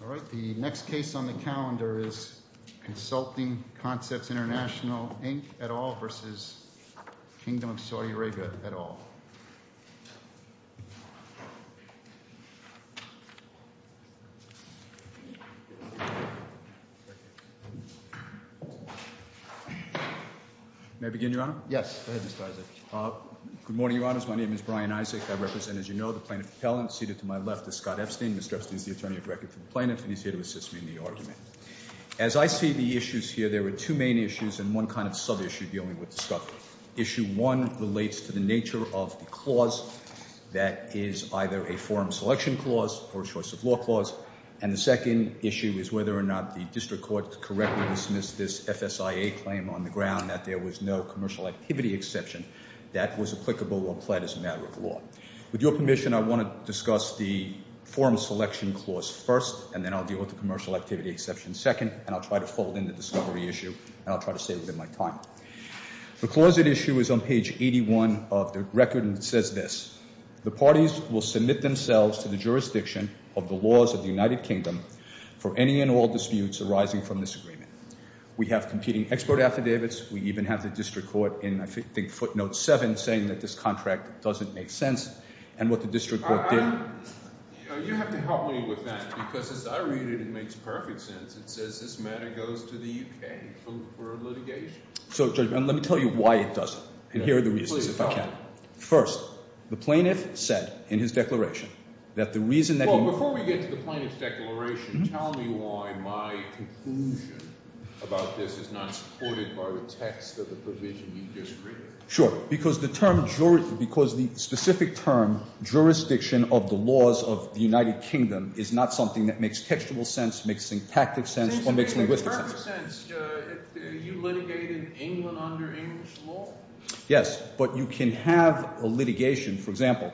May I begin, Your Honor? Yes, go ahead, Mr. Isaac. Good morning, Your Honors. My name is Brian Isaac. I represent, as you know, the plaintiff's appellant. Seated to my left is Scott Epstein. Mr. Epstein is the attorney-at-law for the plaintiff. And he's here to assist me in the argument. As I see the issues here, there are two main issues and one kind of sub-issue dealing with Scott. Issue one relates to the nature of the clause that is either a forum selection clause or a choice of law clause. And the second issue is whether or not the district court correctly dismissed this FSIA claim on the ground that there was no commercial activity exception that was applicable or pled as a matter of law. With your permission, I want to discuss the forum selection clause first, and then I'll deal with the commercial activity exception second. And I'll try to fold in the discovery issue, and I'll try to save you my time. The clause at issue is on page 81 of the record, and it says this. The parties will submit themselves to the jurisdiction of the laws of the United Kingdom for any and all disputes arising from this agreement. We have competing export affidavits. We even have the district court in, I think, footnote seven saying that this contract doesn't make sense and what the district court did. You have to help me with that because as I read it, it makes perfect sense. It says this matter goes to the U.K. for litigation. So, Judge, let me tell you why it doesn't, and here are the reasons if I can. First, the plaintiff said in his declaration that the reason that he— about this is not supported by the text of the provision you just read. Sure, because the term—because the specific term jurisdiction of the laws of the United Kingdom is not something that makes textual sense, makes syntactic sense, or makes linguistic sense. It makes perfect sense. You litigated England under English law? Yes, but you can have a litigation. For example,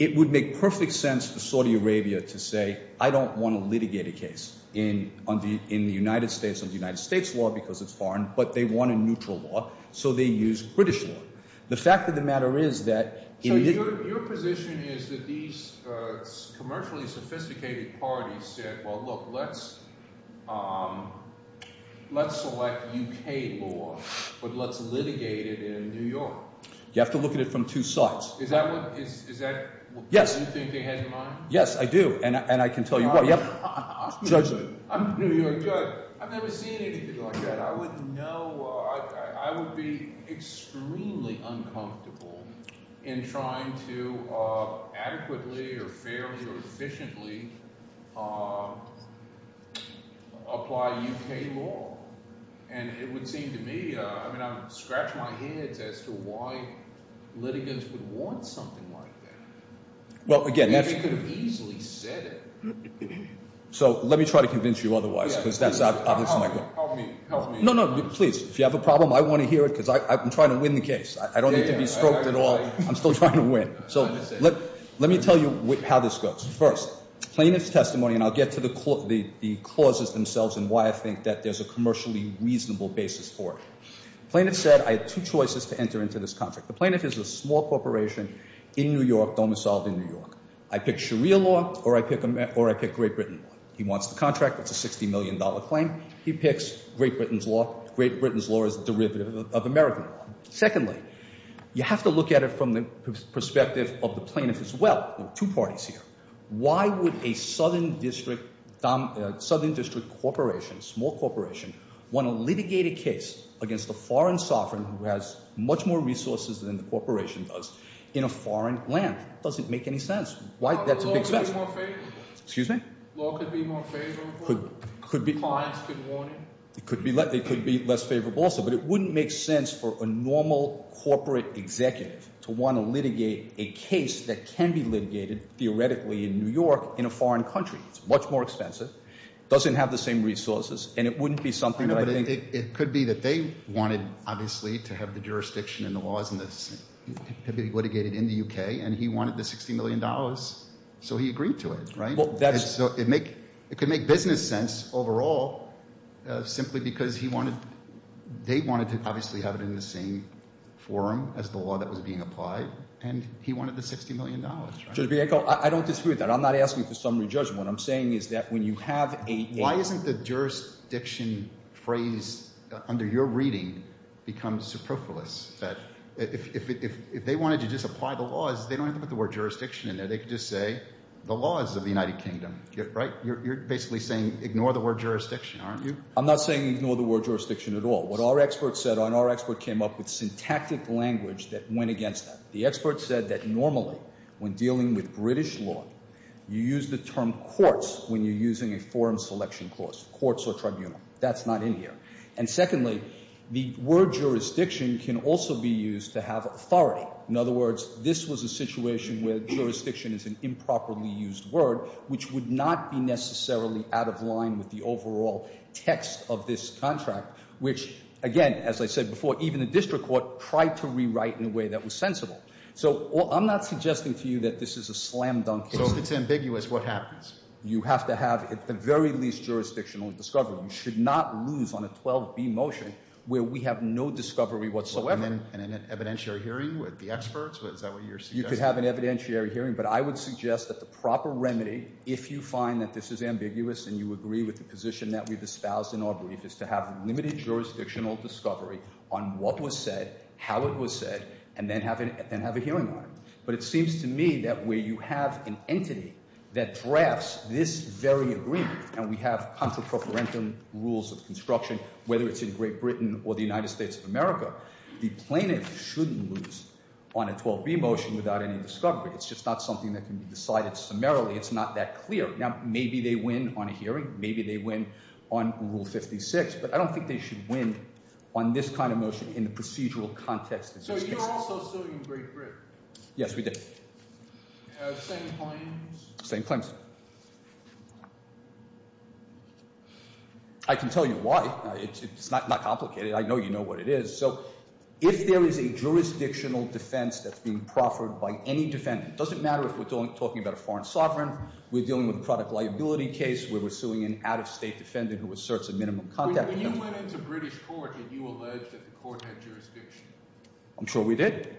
it would make perfect sense for Saudi Arabia to say I don't want to litigate a case in the United States under United States law because it's foreign, but they want a neutral law, so they use British law. The fact of the matter is that— So your position is that these commercially sophisticated parties said, well, look, let's select U.K. law, but let's litigate it in New York. You have to look at it from two sides. Is that what you think they had in mind? Yes, I do, and I can tell you why. I'm New York judge. I've never seen anything like that. I would know—I would be extremely uncomfortable in trying to adequately or fairly or efficiently apply U.K. law. And it would seem to me—I mean, I would scratch my head as to why litigants would want something like that. Well, again— They could have easily said it. So let me try to convince you otherwise because that's my— Help me. Help me. No, no, please. If you have a problem, I want to hear it because I'm trying to win the case. I don't need to be stroked at all. I'm still trying to win. So let me tell you how this goes. First, plaintiff's testimony, and I'll get to the clauses themselves and why I think that there's a commercially reasonable basis for it. Plaintiff said, I have two choices to enter into this contract. The plaintiff is a small corporation in New York, domiciled in New York. I pick Sharia law or I pick Great Britain law. He wants the contract. It's a $60 million claim. He picks Great Britain's law. Great Britain's law is a derivative of American law. Secondly, you have to look at it from the perspective of the plaintiff as well. There are two parties here. Why would a southern district corporation, small corporation, want to litigate a case against a foreign sovereign who has much more resources than the corporation does in a foreign land? It doesn't make any sense. Why? That's a big question. Law could be more favorable. Excuse me? Law could be more favorable. Could be. Clients could want it. It could be less favorable also. But it wouldn't make sense for a normal corporate executive to want to litigate a case that can be litigated theoretically in New York in a foreign country. It's much more expensive. It doesn't have the same resources. And it wouldn't be something that I think— It could be that they wanted, obviously, to have the jurisdiction and the laws litigated in the U.K. And he wanted the $60 million. So he agreed to it. Right? It could make business sense overall simply because he wanted—they wanted to obviously have it in the same forum as the law that was being applied, and he wanted the $60 million. Judge Bianco, I don't disagree with that. I'm not asking for summary judgment. What I'm saying is that when you have a— Why isn't the jurisdiction phrase under your reading become superfluous? If they wanted to just apply the laws, they don't have to put the word jurisdiction in there. They could just say the laws of the United Kingdom. Right? You're basically saying ignore the word jurisdiction, aren't you? I'm not saying ignore the word jurisdiction at all. What our experts said—and our expert came up with syntactic language that went against that. The expert said that normally when dealing with British law, you use the term courts when you're using a forum selection clause, courts or tribunal. That's not in here. And secondly, the word jurisdiction can also be used to have authority. In other words, this was a situation where jurisdiction is an improperly used word, which would not be necessarily out of line with the overall text of this contract, which, again, as I said before, even the district court tried to rewrite in a way that was sensible. So I'm not suggesting to you that this is a slam dunk case. So if it's ambiguous, what happens? You have to have at the very least jurisdictional discovery. You should not lose on a 12B motion where we have no discovery whatsoever. And an evidentiary hearing with the experts? Is that what you're suggesting? You could have an evidentiary hearing, but I would suggest that the proper remedy, if you find that this is ambiguous and you agree with the position that we've espoused in our brief, is to have limited jurisdictional discovery on what was said, how it was said, and then have a hearing on it. But it seems to me that where you have an entity that drafts this very agreement, and we have contra preferentum rules of construction, whether it's in Great Britain or the United States of America, the plaintiff shouldn't lose on a 12B motion without any discovery. It's just not something that can be decided summarily. It's not that clear. Now, maybe they win on a hearing. Maybe they win on Rule 56. But I don't think they should win on this kind of motion in the procedural context. So you're also suing Great Britain? Yes, we did. Same claims? Same claims. I can tell you why. It's not complicated. I know you know what it is. So if there is a jurisdictional defense that's being proffered by any defendant, it doesn't matter if we're talking about a foreign sovereign. We're dealing with a product liability case where we're suing an out-of-state defendant who asserts a minimum contact penalty. When you went into British court, did you allege that the court had jurisdiction? I'm sure we did.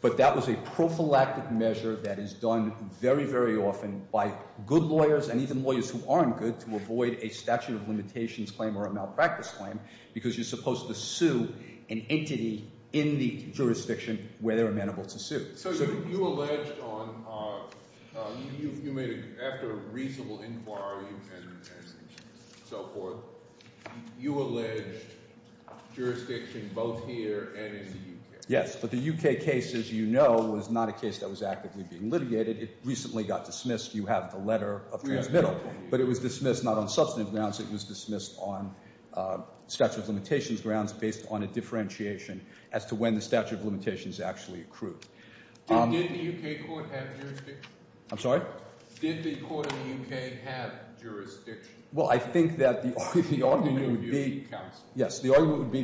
But that was a prophylactic measure that is done very, very often by good lawyers and even lawyers who aren't good to avoid a statute of limitations claim or a malpractice claim because you're supposed to sue an entity in the jurisdiction where they're amenable to sue. So you alleged, after a reasonable inquiry and so forth, you alleged jurisdiction both here and in the U.K. Yes, but the U.K. case, as you know, was not a case that was actively being litigated. It recently got dismissed. You have the letter of transmittal. But it was dismissed not on substantive grounds. It was dismissed on statute of limitations grounds based on a differentiation as to when the statute of limitations actually accrued. Did the U.K. court have jurisdiction? I'm sorry? Did the court in the U.K. have jurisdiction? Well, I think that the argument would be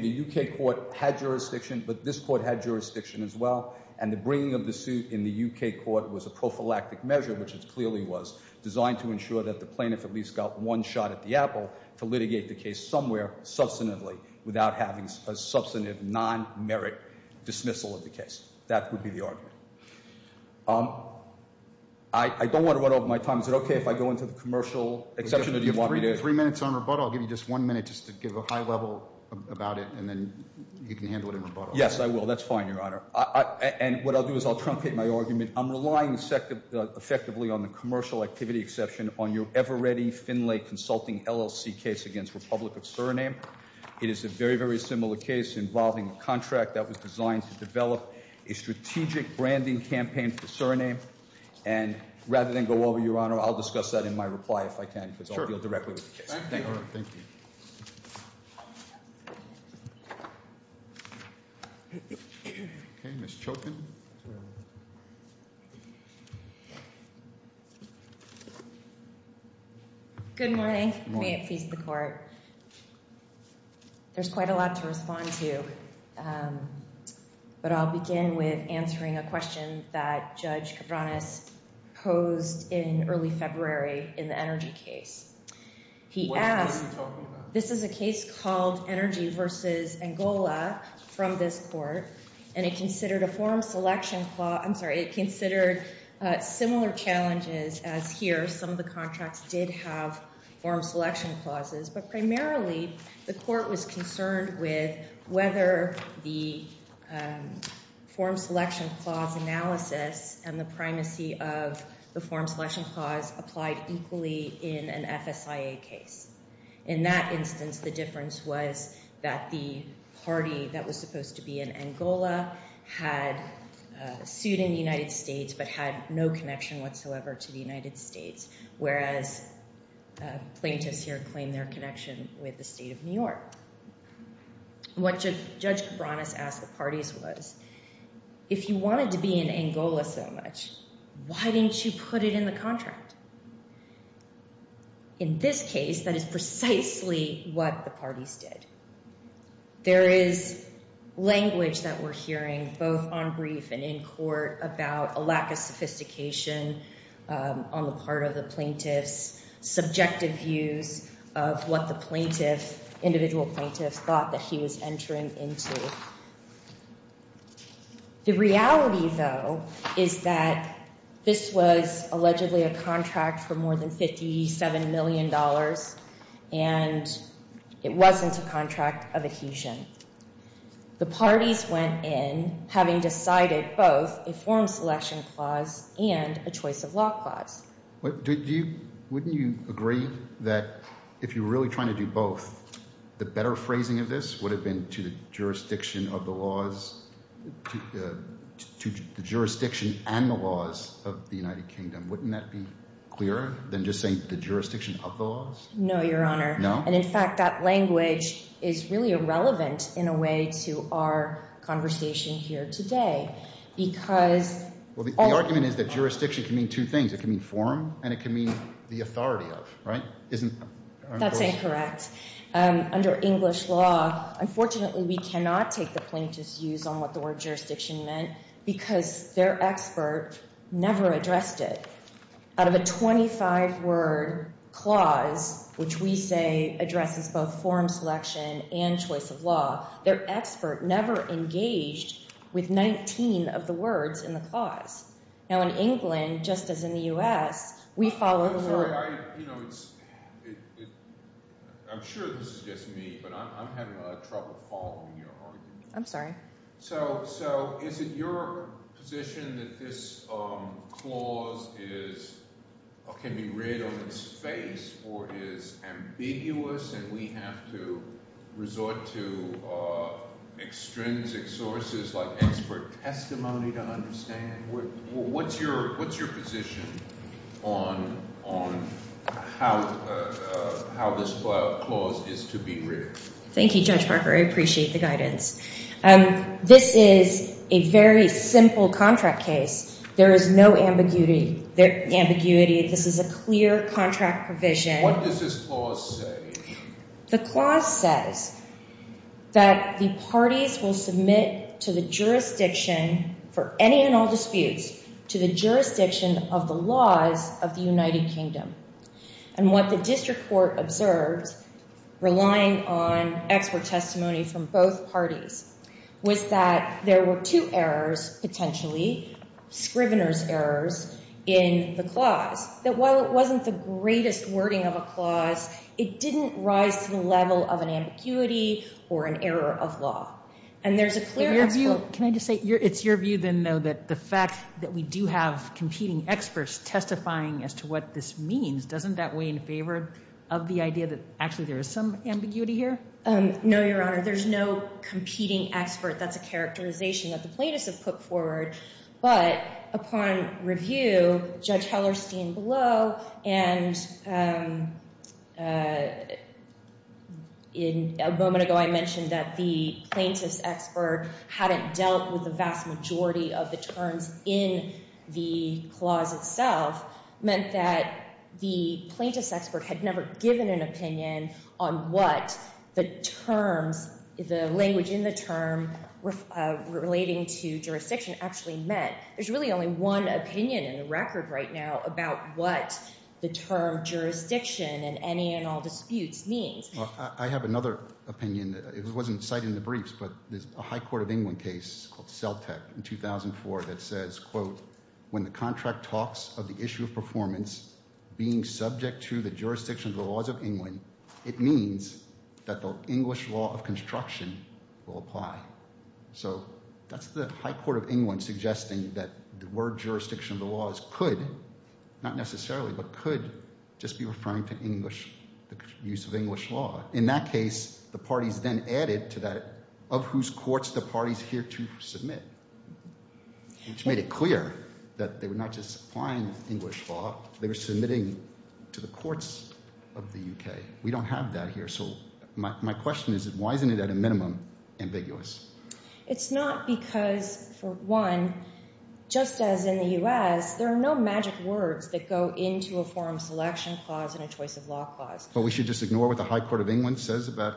the U.K. court had jurisdiction, but this court had jurisdiction as well, and the bringing of the suit in the U.K. court was a prophylactic measure, which it clearly was, designed to ensure that the plaintiff at least got one shot at the apple to litigate the case somewhere substantively without having a substantive non-merit dismissal of the case. That would be the argument. I don't want to run over my time. Is it okay if I go into the commercial exception, or do you want me to? Three minutes on rebuttal. I'll give you just one minute just to give a high level about it, and then you can handle it in rebuttal. Yes, I will. That's fine, Your Honor. And what I'll do is I'll truncate my argument. I'm relying effectively on the commercial activity exception on your ever-ready Finlay Consulting LLC case against Republic of Suriname. It is a very, very similar case involving a contract that was designed to develop a strategic branding campaign for Suriname. And rather than go over, Your Honor, I'll discuss that in my reply if I can, because I'll deal directly with the case. Thank you. Thank you. Thank you. Okay, Ms. Chokin. Good morning. Good morning. May it please the court. There's quite a lot to respond to, but I'll begin with answering a question that Judge Cabranes posed in early February in the energy case. What are you talking about? This is a case called Energy v. Angola from this court, and it considered a form selection clause. I'm sorry. It considered similar challenges as here. Some of the contracts did have form selection clauses. But primarily, the court was concerned with whether the form selection clause analysis and the primacy of the form selection clause applied equally in an FSIA case. In that instance, the difference was that the party that was supposed to be in Angola had sued in the United States but had no connection whatsoever to the United States, whereas plaintiffs here claim their connection with the state of New York. What Judge Cabranes asked the parties was, if you wanted to be in Angola so much, why didn't you put it in the contract? In this case, that is precisely what the parties did. There is language that we're hearing both on brief and in court about a lack of sophistication on the part of the plaintiffs, subjective views of what the plaintiff, individual plaintiffs, thought that he was entering into. The reality, though, is that this was allegedly a contract for more than $57 million, and it wasn't a contract of adhesion. The parties went in having decided both a form selection clause and a choice of law clause. Wouldn't you agree that if you're really trying to do both, the better phrasing of this would have been to the jurisdiction of the laws – to the jurisdiction and the laws of the United Kingdom? Wouldn't that be clearer than just saying the jurisdiction of the laws? No, Your Honor. No? And, in fact, that language is really irrelevant in a way to our conversation here today because – Well, the argument is that jurisdiction can mean two things. It can mean form and it can mean the authority of, right? Isn't – That's incorrect. Under English law, unfortunately, we cannot take the plaintiffs' views on what the word jurisdiction meant because their expert never addressed it. Out of a 25-word clause, which we say addresses both form selection and choice of law, their expert never engaged with 19 of the words in the clause. Now, in England, just as in the U.S., we follow the word – I'm sorry. I'm sure this is just me, but I'm having a lot of trouble following your argument. I'm sorry. So is it your position that this clause is – can be read on its face or is ambiguous and we have to resort to extrinsic sources like expert testimony to understand? What's your position on how this clause is to be read? Thank you, Judge Parker. I appreciate the guidance. This is a very simple contract case. There is no ambiguity. This is a clear contract provision. What does this clause say? The clause says that the parties will submit to the jurisdiction for any and all disputes to the jurisdiction of the laws of the United Kingdom. And what the district court observed, relying on expert testimony from both parties, was that there were two errors, potentially, scrivener's errors in the clause. That while it wasn't the greatest wording of a clause, it didn't rise to the level of an ambiguity or an error of law. And there's a clear – Can I just say, it's your view then, though, that the fact that we do have competing experts testifying as to what this means, doesn't that weigh in favor of the idea that actually there is some ambiguity here? No, Your Honor. There's no competing expert. That's a characterization that the plaintiffs have put forward. But upon review, Judge Hellerstein below, and a moment ago I mentioned that the plaintiff's expert hadn't dealt with the vast majority of the terms in the clause itself, meant that the plaintiff's expert had never given an opinion on what the terms, the language in the term relating to jurisdiction actually meant. There's really only one opinion in the record right now about what the term jurisdiction and any and all disputes means. I have another opinion. It wasn't cited in the briefs, but there's a high court of England case called Celtic in 2004 that says, quote, when the contract talks of the issue of performance being subject to the jurisdiction of the laws of England, it means that the English law of construction will apply. So that's the high court of England suggesting that the word jurisdiction of the laws could, not necessarily, but could just be referring to English, the use of English law. In that case, the parties then added to that of whose courts the parties here to submit, which made it clear that they were not just applying English law. They were submitting to the courts of the U.K. We don't have that here. So my question is, why isn't it at a minimum ambiguous? It's not because, for one, just as in the U.S., there are no magic words that go into a forum selection clause and a choice of law clause. But we should just ignore what the high court of England says about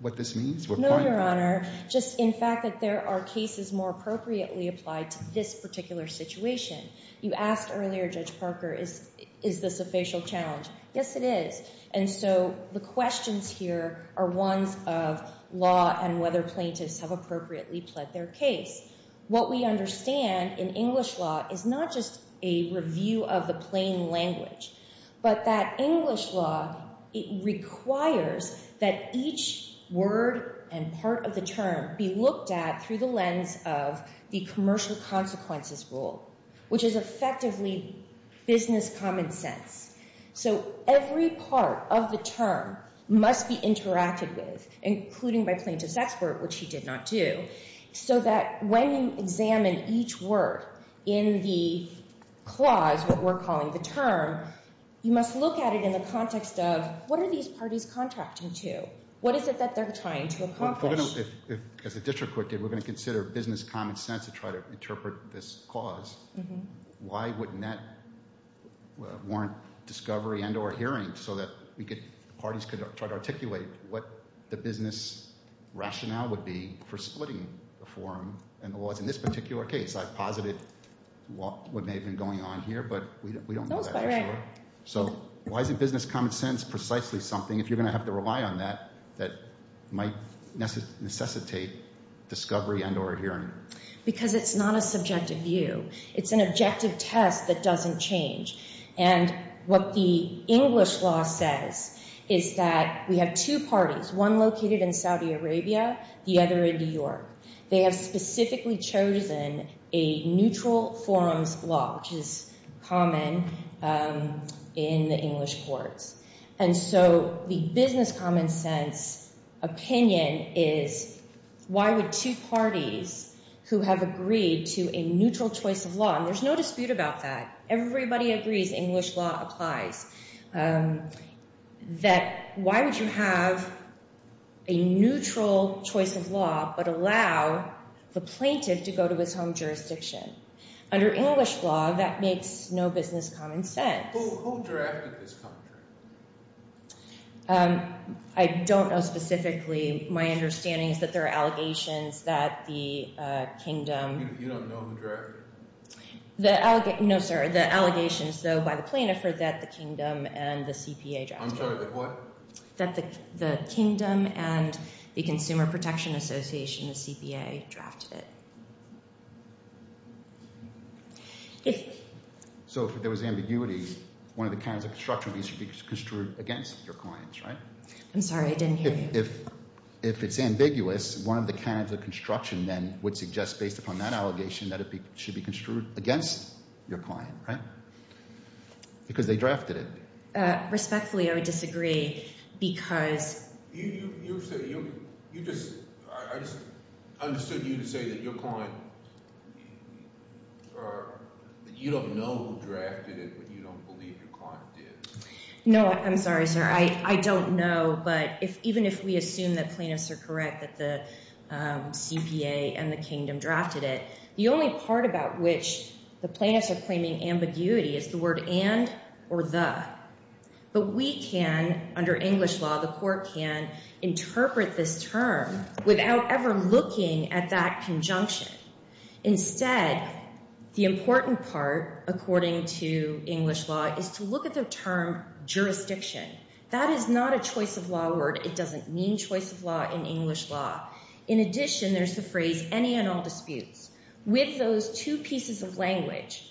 what this means? No, Your Honor. Just in fact that there are cases more appropriately applied to this particular situation. You asked earlier, Judge Parker, is this a facial challenge? Yes, it is. And so the questions here are ones of law and whether plaintiffs have appropriately pled their case. What we understand in English law is not just a review of the plain language. But that English law, it requires that each word and part of the term be looked at through the lens of the commercial consequences rule, which is effectively business common sense. So every part of the term must be interacted with, including by plaintiff's expert, which he did not do. So that when you examine each word in the clause, what we're calling the term, you must look at it in the context of what are these parties contracting to? What is it that they're trying to accomplish? As a district court did, we're going to consider business common sense to try to interpret this clause. Why wouldn't that warrant discovery and or hearing so that parties could try to articulate what the business rationale would be for splitting the forum and the laws? In this particular case, I've posited what may have been going on here, but we don't know that for sure. So why isn't business common sense precisely something, if you're going to have to rely on that, that might necessitate discovery and or hearing? Because it's not a subjective view. It's an objective test that doesn't change. And what the English law says is that we have two parties, one located in Saudi Arabia, the other in New York. They have specifically chosen a neutral forums law, which is common in the English courts. And so the business common sense opinion is, why would two parties who have agreed to a neutral choice of law, and there's no dispute about that. Everybody agrees, English law applies, that why would you have a neutral choice of law but allow the plaintiff to go to his home jurisdiction? Under English law, that makes no business common sense. Who drafted this contract? I don't know specifically. My understanding is that there are allegations that the kingdom… You don't know who drafted it? No, sir. The allegations, though, by the plaintiff are that the kingdom and the CPA drafted it. I'm sorry, the what? That the kingdom and the Consumer Protection Association, the CPA, drafted it. So if there was ambiguity, one of the kinds of construction would be construed against your clients, right? I'm sorry, I didn't hear you. If it's ambiguous, one of the kinds of construction then would suggest based upon that allegation that it should be construed against your client, right? Because they drafted it. Respectfully, I would disagree because… You just – I just understood you to say that your client – that you don't know who drafted it, but you don't believe your client did. No, I'm sorry, sir. I don't know. But even if we assume that plaintiffs are correct, that the CPA and the kingdom drafted it, the only part about which the plaintiffs are claiming ambiguity is the word and or the. But we can, under English law, the court can, interpret this term without ever looking at that conjunction. Instead, the important part, according to English law, is to look at the term jurisdiction. That is not a choice of law word. It doesn't mean choice of law in English law. In addition, there's the phrase any and all disputes. With those two pieces of language,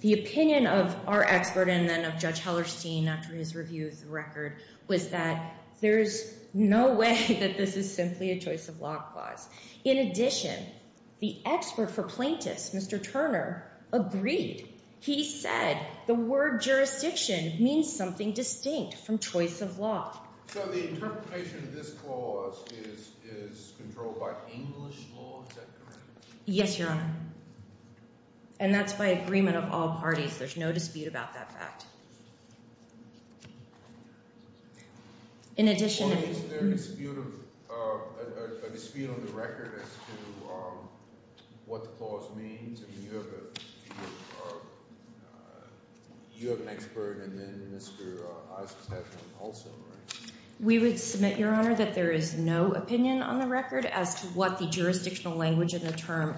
the opinion of our expert and then of Judge Hellerstein after his review of the record, was that there's no way that this is simply a choice of law clause. In addition, the expert for plaintiffs, Mr. Turner, agreed. He said the word jurisdiction means something distinct from choice of law. So the interpretation of this clause is controlled by English law? Is that correct? Yes, Your Honor, and that's by agreement of all parties. There's no dispute about that fact. In addition— Or is there a dispute on the record as to what the clause means? I mean, you have an expert and then Mr. Isaacs has one also, right? We would submit, Your Honor, that there is no opinion on the record as to what the jurisdictional language in the term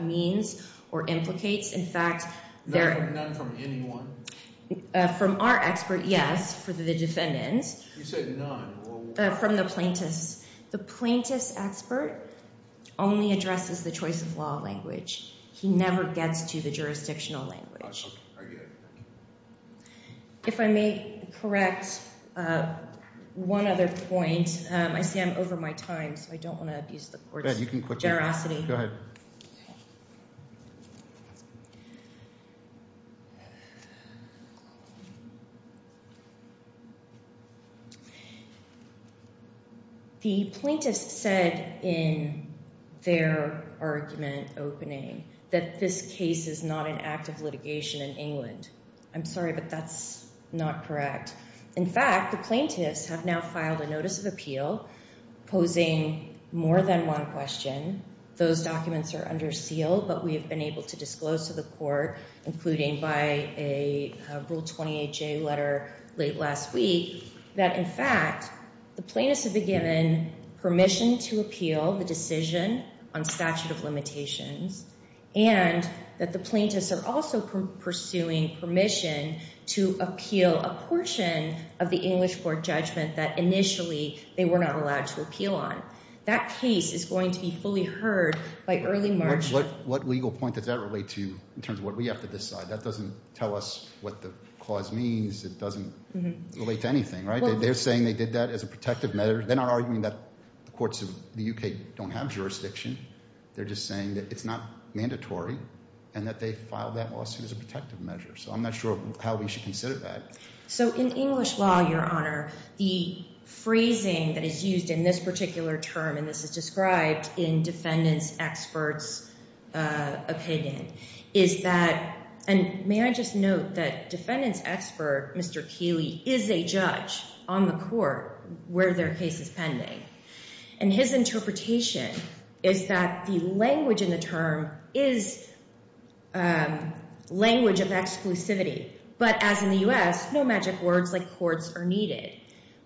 means or implicates. In fact, there— None from anyone? From our expert, yes, for the defendants. You said none. From the plaintiffs. The plaintiffs' expert only addresses the choice of law language. He never gets to the jurisdictional language. I get it. Thank you. If I may correct one other point, I see I'm over my time, so I don't want to abuse the court's generosity. Go ahead. The plaintiffs said in their argument opening that this case is not an act of litigation in England. I'm sorry, but that's not correct. In fact, the plaintiffs have now filed a notice of appeal posing more than one question. Those documents are under seal, but we have been able to disclose to the court, including by a Rule 28J letter late last week, that in fact the plaintiffs have been given permission to appeal the decision on statute of limitations and that the plaintiffs are also pursuing permission to appeal a portion of the English court judgment that initially they were not allowed to appeal on. That case is going to be fully heard by early March. What legal point does that relate to in terms of what we have to decide? That doesn't tell us what the clause means. It doesn't relate to anything, right? They're saying they did that as a protective measure. They're not arguing that the courts of the U.K. don't have jurisdiction. They're just saying that it's not mandatory and that they filed that lawsuit as a protective measure. So I'm not sure how we should consider that. So in English law, Your Honor, the phrasing that is used in this particular term, and this is described in defendant's expert's opinion, is that – and may I just note that defendant's expert, Mr. Keeley, is a judge on the court where their case is pending. And his interpretation is that the language in the term is language of exclusivity. But as in the U.S., no magic words like courts are needed.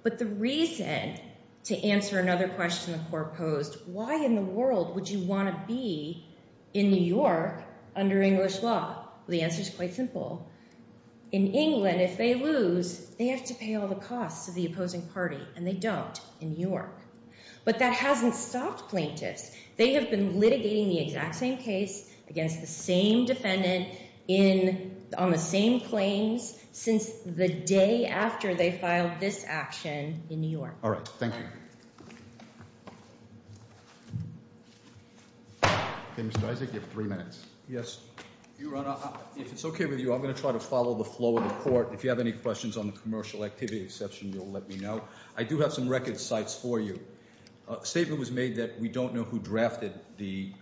But the reason to answer another question the court posed, why in the world would you want to be in New York under English law? The answer is quite simple. In England, if they lose, they have to pay all the costs to the opposing party, and they don't in New York. But that hasn't stopped plaintiffs. They have been litigating the exact same case against the same defendant on the same claims since the day after they filed this action in New York. All right. Thank you. Okay, Mr. Isaac, you have three minutes. Yes. Your Honor, if it's okay with you, I'm going to try to follow the flow of the court. If you have any questions on the commercial activity exception, you'll let me know. I do have some record cites for you. A statement was made that we don't know who drafted the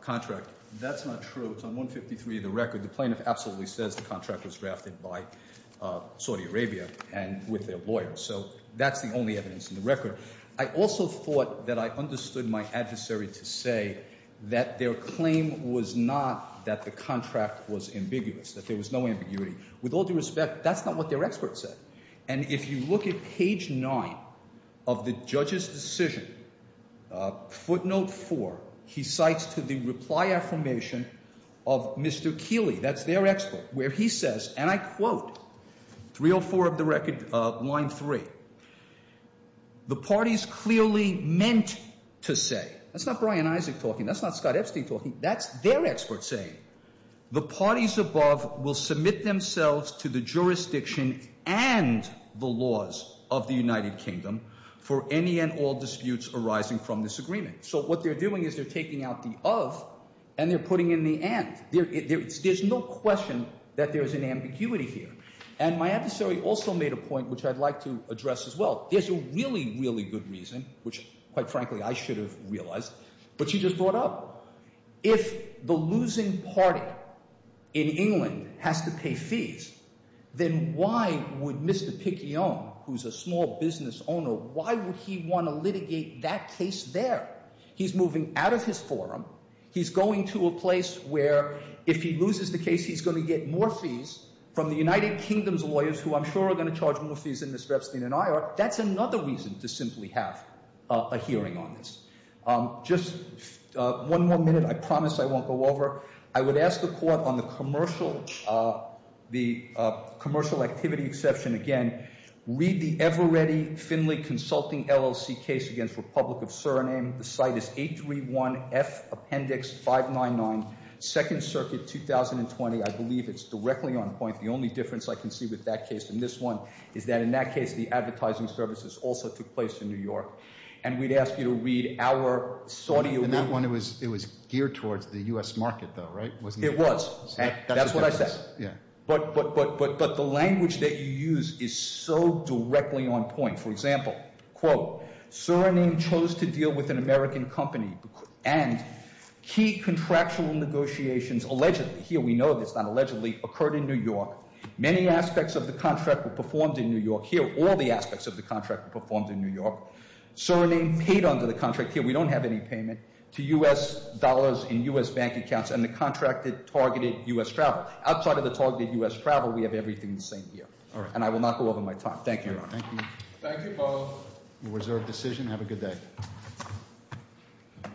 contract. That's not true. It's on 153 of the record. The plaintiff absolutely says the contract was drafted by Saudi Arabia and with their lawyer. So that's the only evidence in the record. I also thought that I understood my adversary to say that their claim was not that the contract was ambiguous, that there was no ambiguity. With all due respect, that's not what their expert said. And if you look at page nine of the judge's decision, footnote four, he cites to the reply affirmation of Mr. Keeley. That's their expert, where he says, and I quote, 304 of the record, line three, the parties clearly meant to say. That's not Brian Isaac talking. That's not Scott Epstein talking. That's their expert saying the parties above will submit themselves to the jurisdiction and the laws of the United Kingdom for any and all disputes arising from this agreement. So what they're doing is they're taking out the of and they're putting in the and. There's no question that there is an ambiguity here. And my adversary also made a point, which I'd like to address as well. There's a really, really good reason, which, quite frankly, I should have realized, but she just brought up. If the losing party in England has to pay fees, then why would Mr. Picayune, who's a small business owner, why would he want to litigate that case there? He's moving out of his forum. He's going to a place where if he loses the case, he's going to get more fees from the United Kingdom's lawyers, who I'm sure are going to charge more fees than Ms. Epstein and I are. That's another reason to simply have a hearing on this. Just one more minute. I promise I won't go over. I would ask the court on the commercial activity exception again. Read the ever-ready Finley Consulting LLC case against Republic of Suriname. The site is 831F Appendix 599, Second Circuit, 2020. I believe it's directly on point. The only difference I can see with that case than this one is that in that case, the advertising services also took place in New York. And we'd ask you to read our- In that one, it was geared towards the U.S. market, though, right? It was. That's what I said. Yeah. But the language that you use is so directly on point. For example, quote, Suriname chose to deal with an American company and key contractual negotiations allegedly, here we know this, not allegedly, occurred in New York. Many aspects of the contract were performed in New York. Here, all the aspects of the contract were performed in New York. Suriname paid under the contract. Here, we don't have any payment to U.S. dollars in U.S. bank accounts and the contracted targeted U.S. travel. Outside of the targeted U.S. travel, we have everything the same here. All right. And I will not go over my time. Thank you, Your Honor. Thank you. Thank you both. Reserve decision. Have a good day.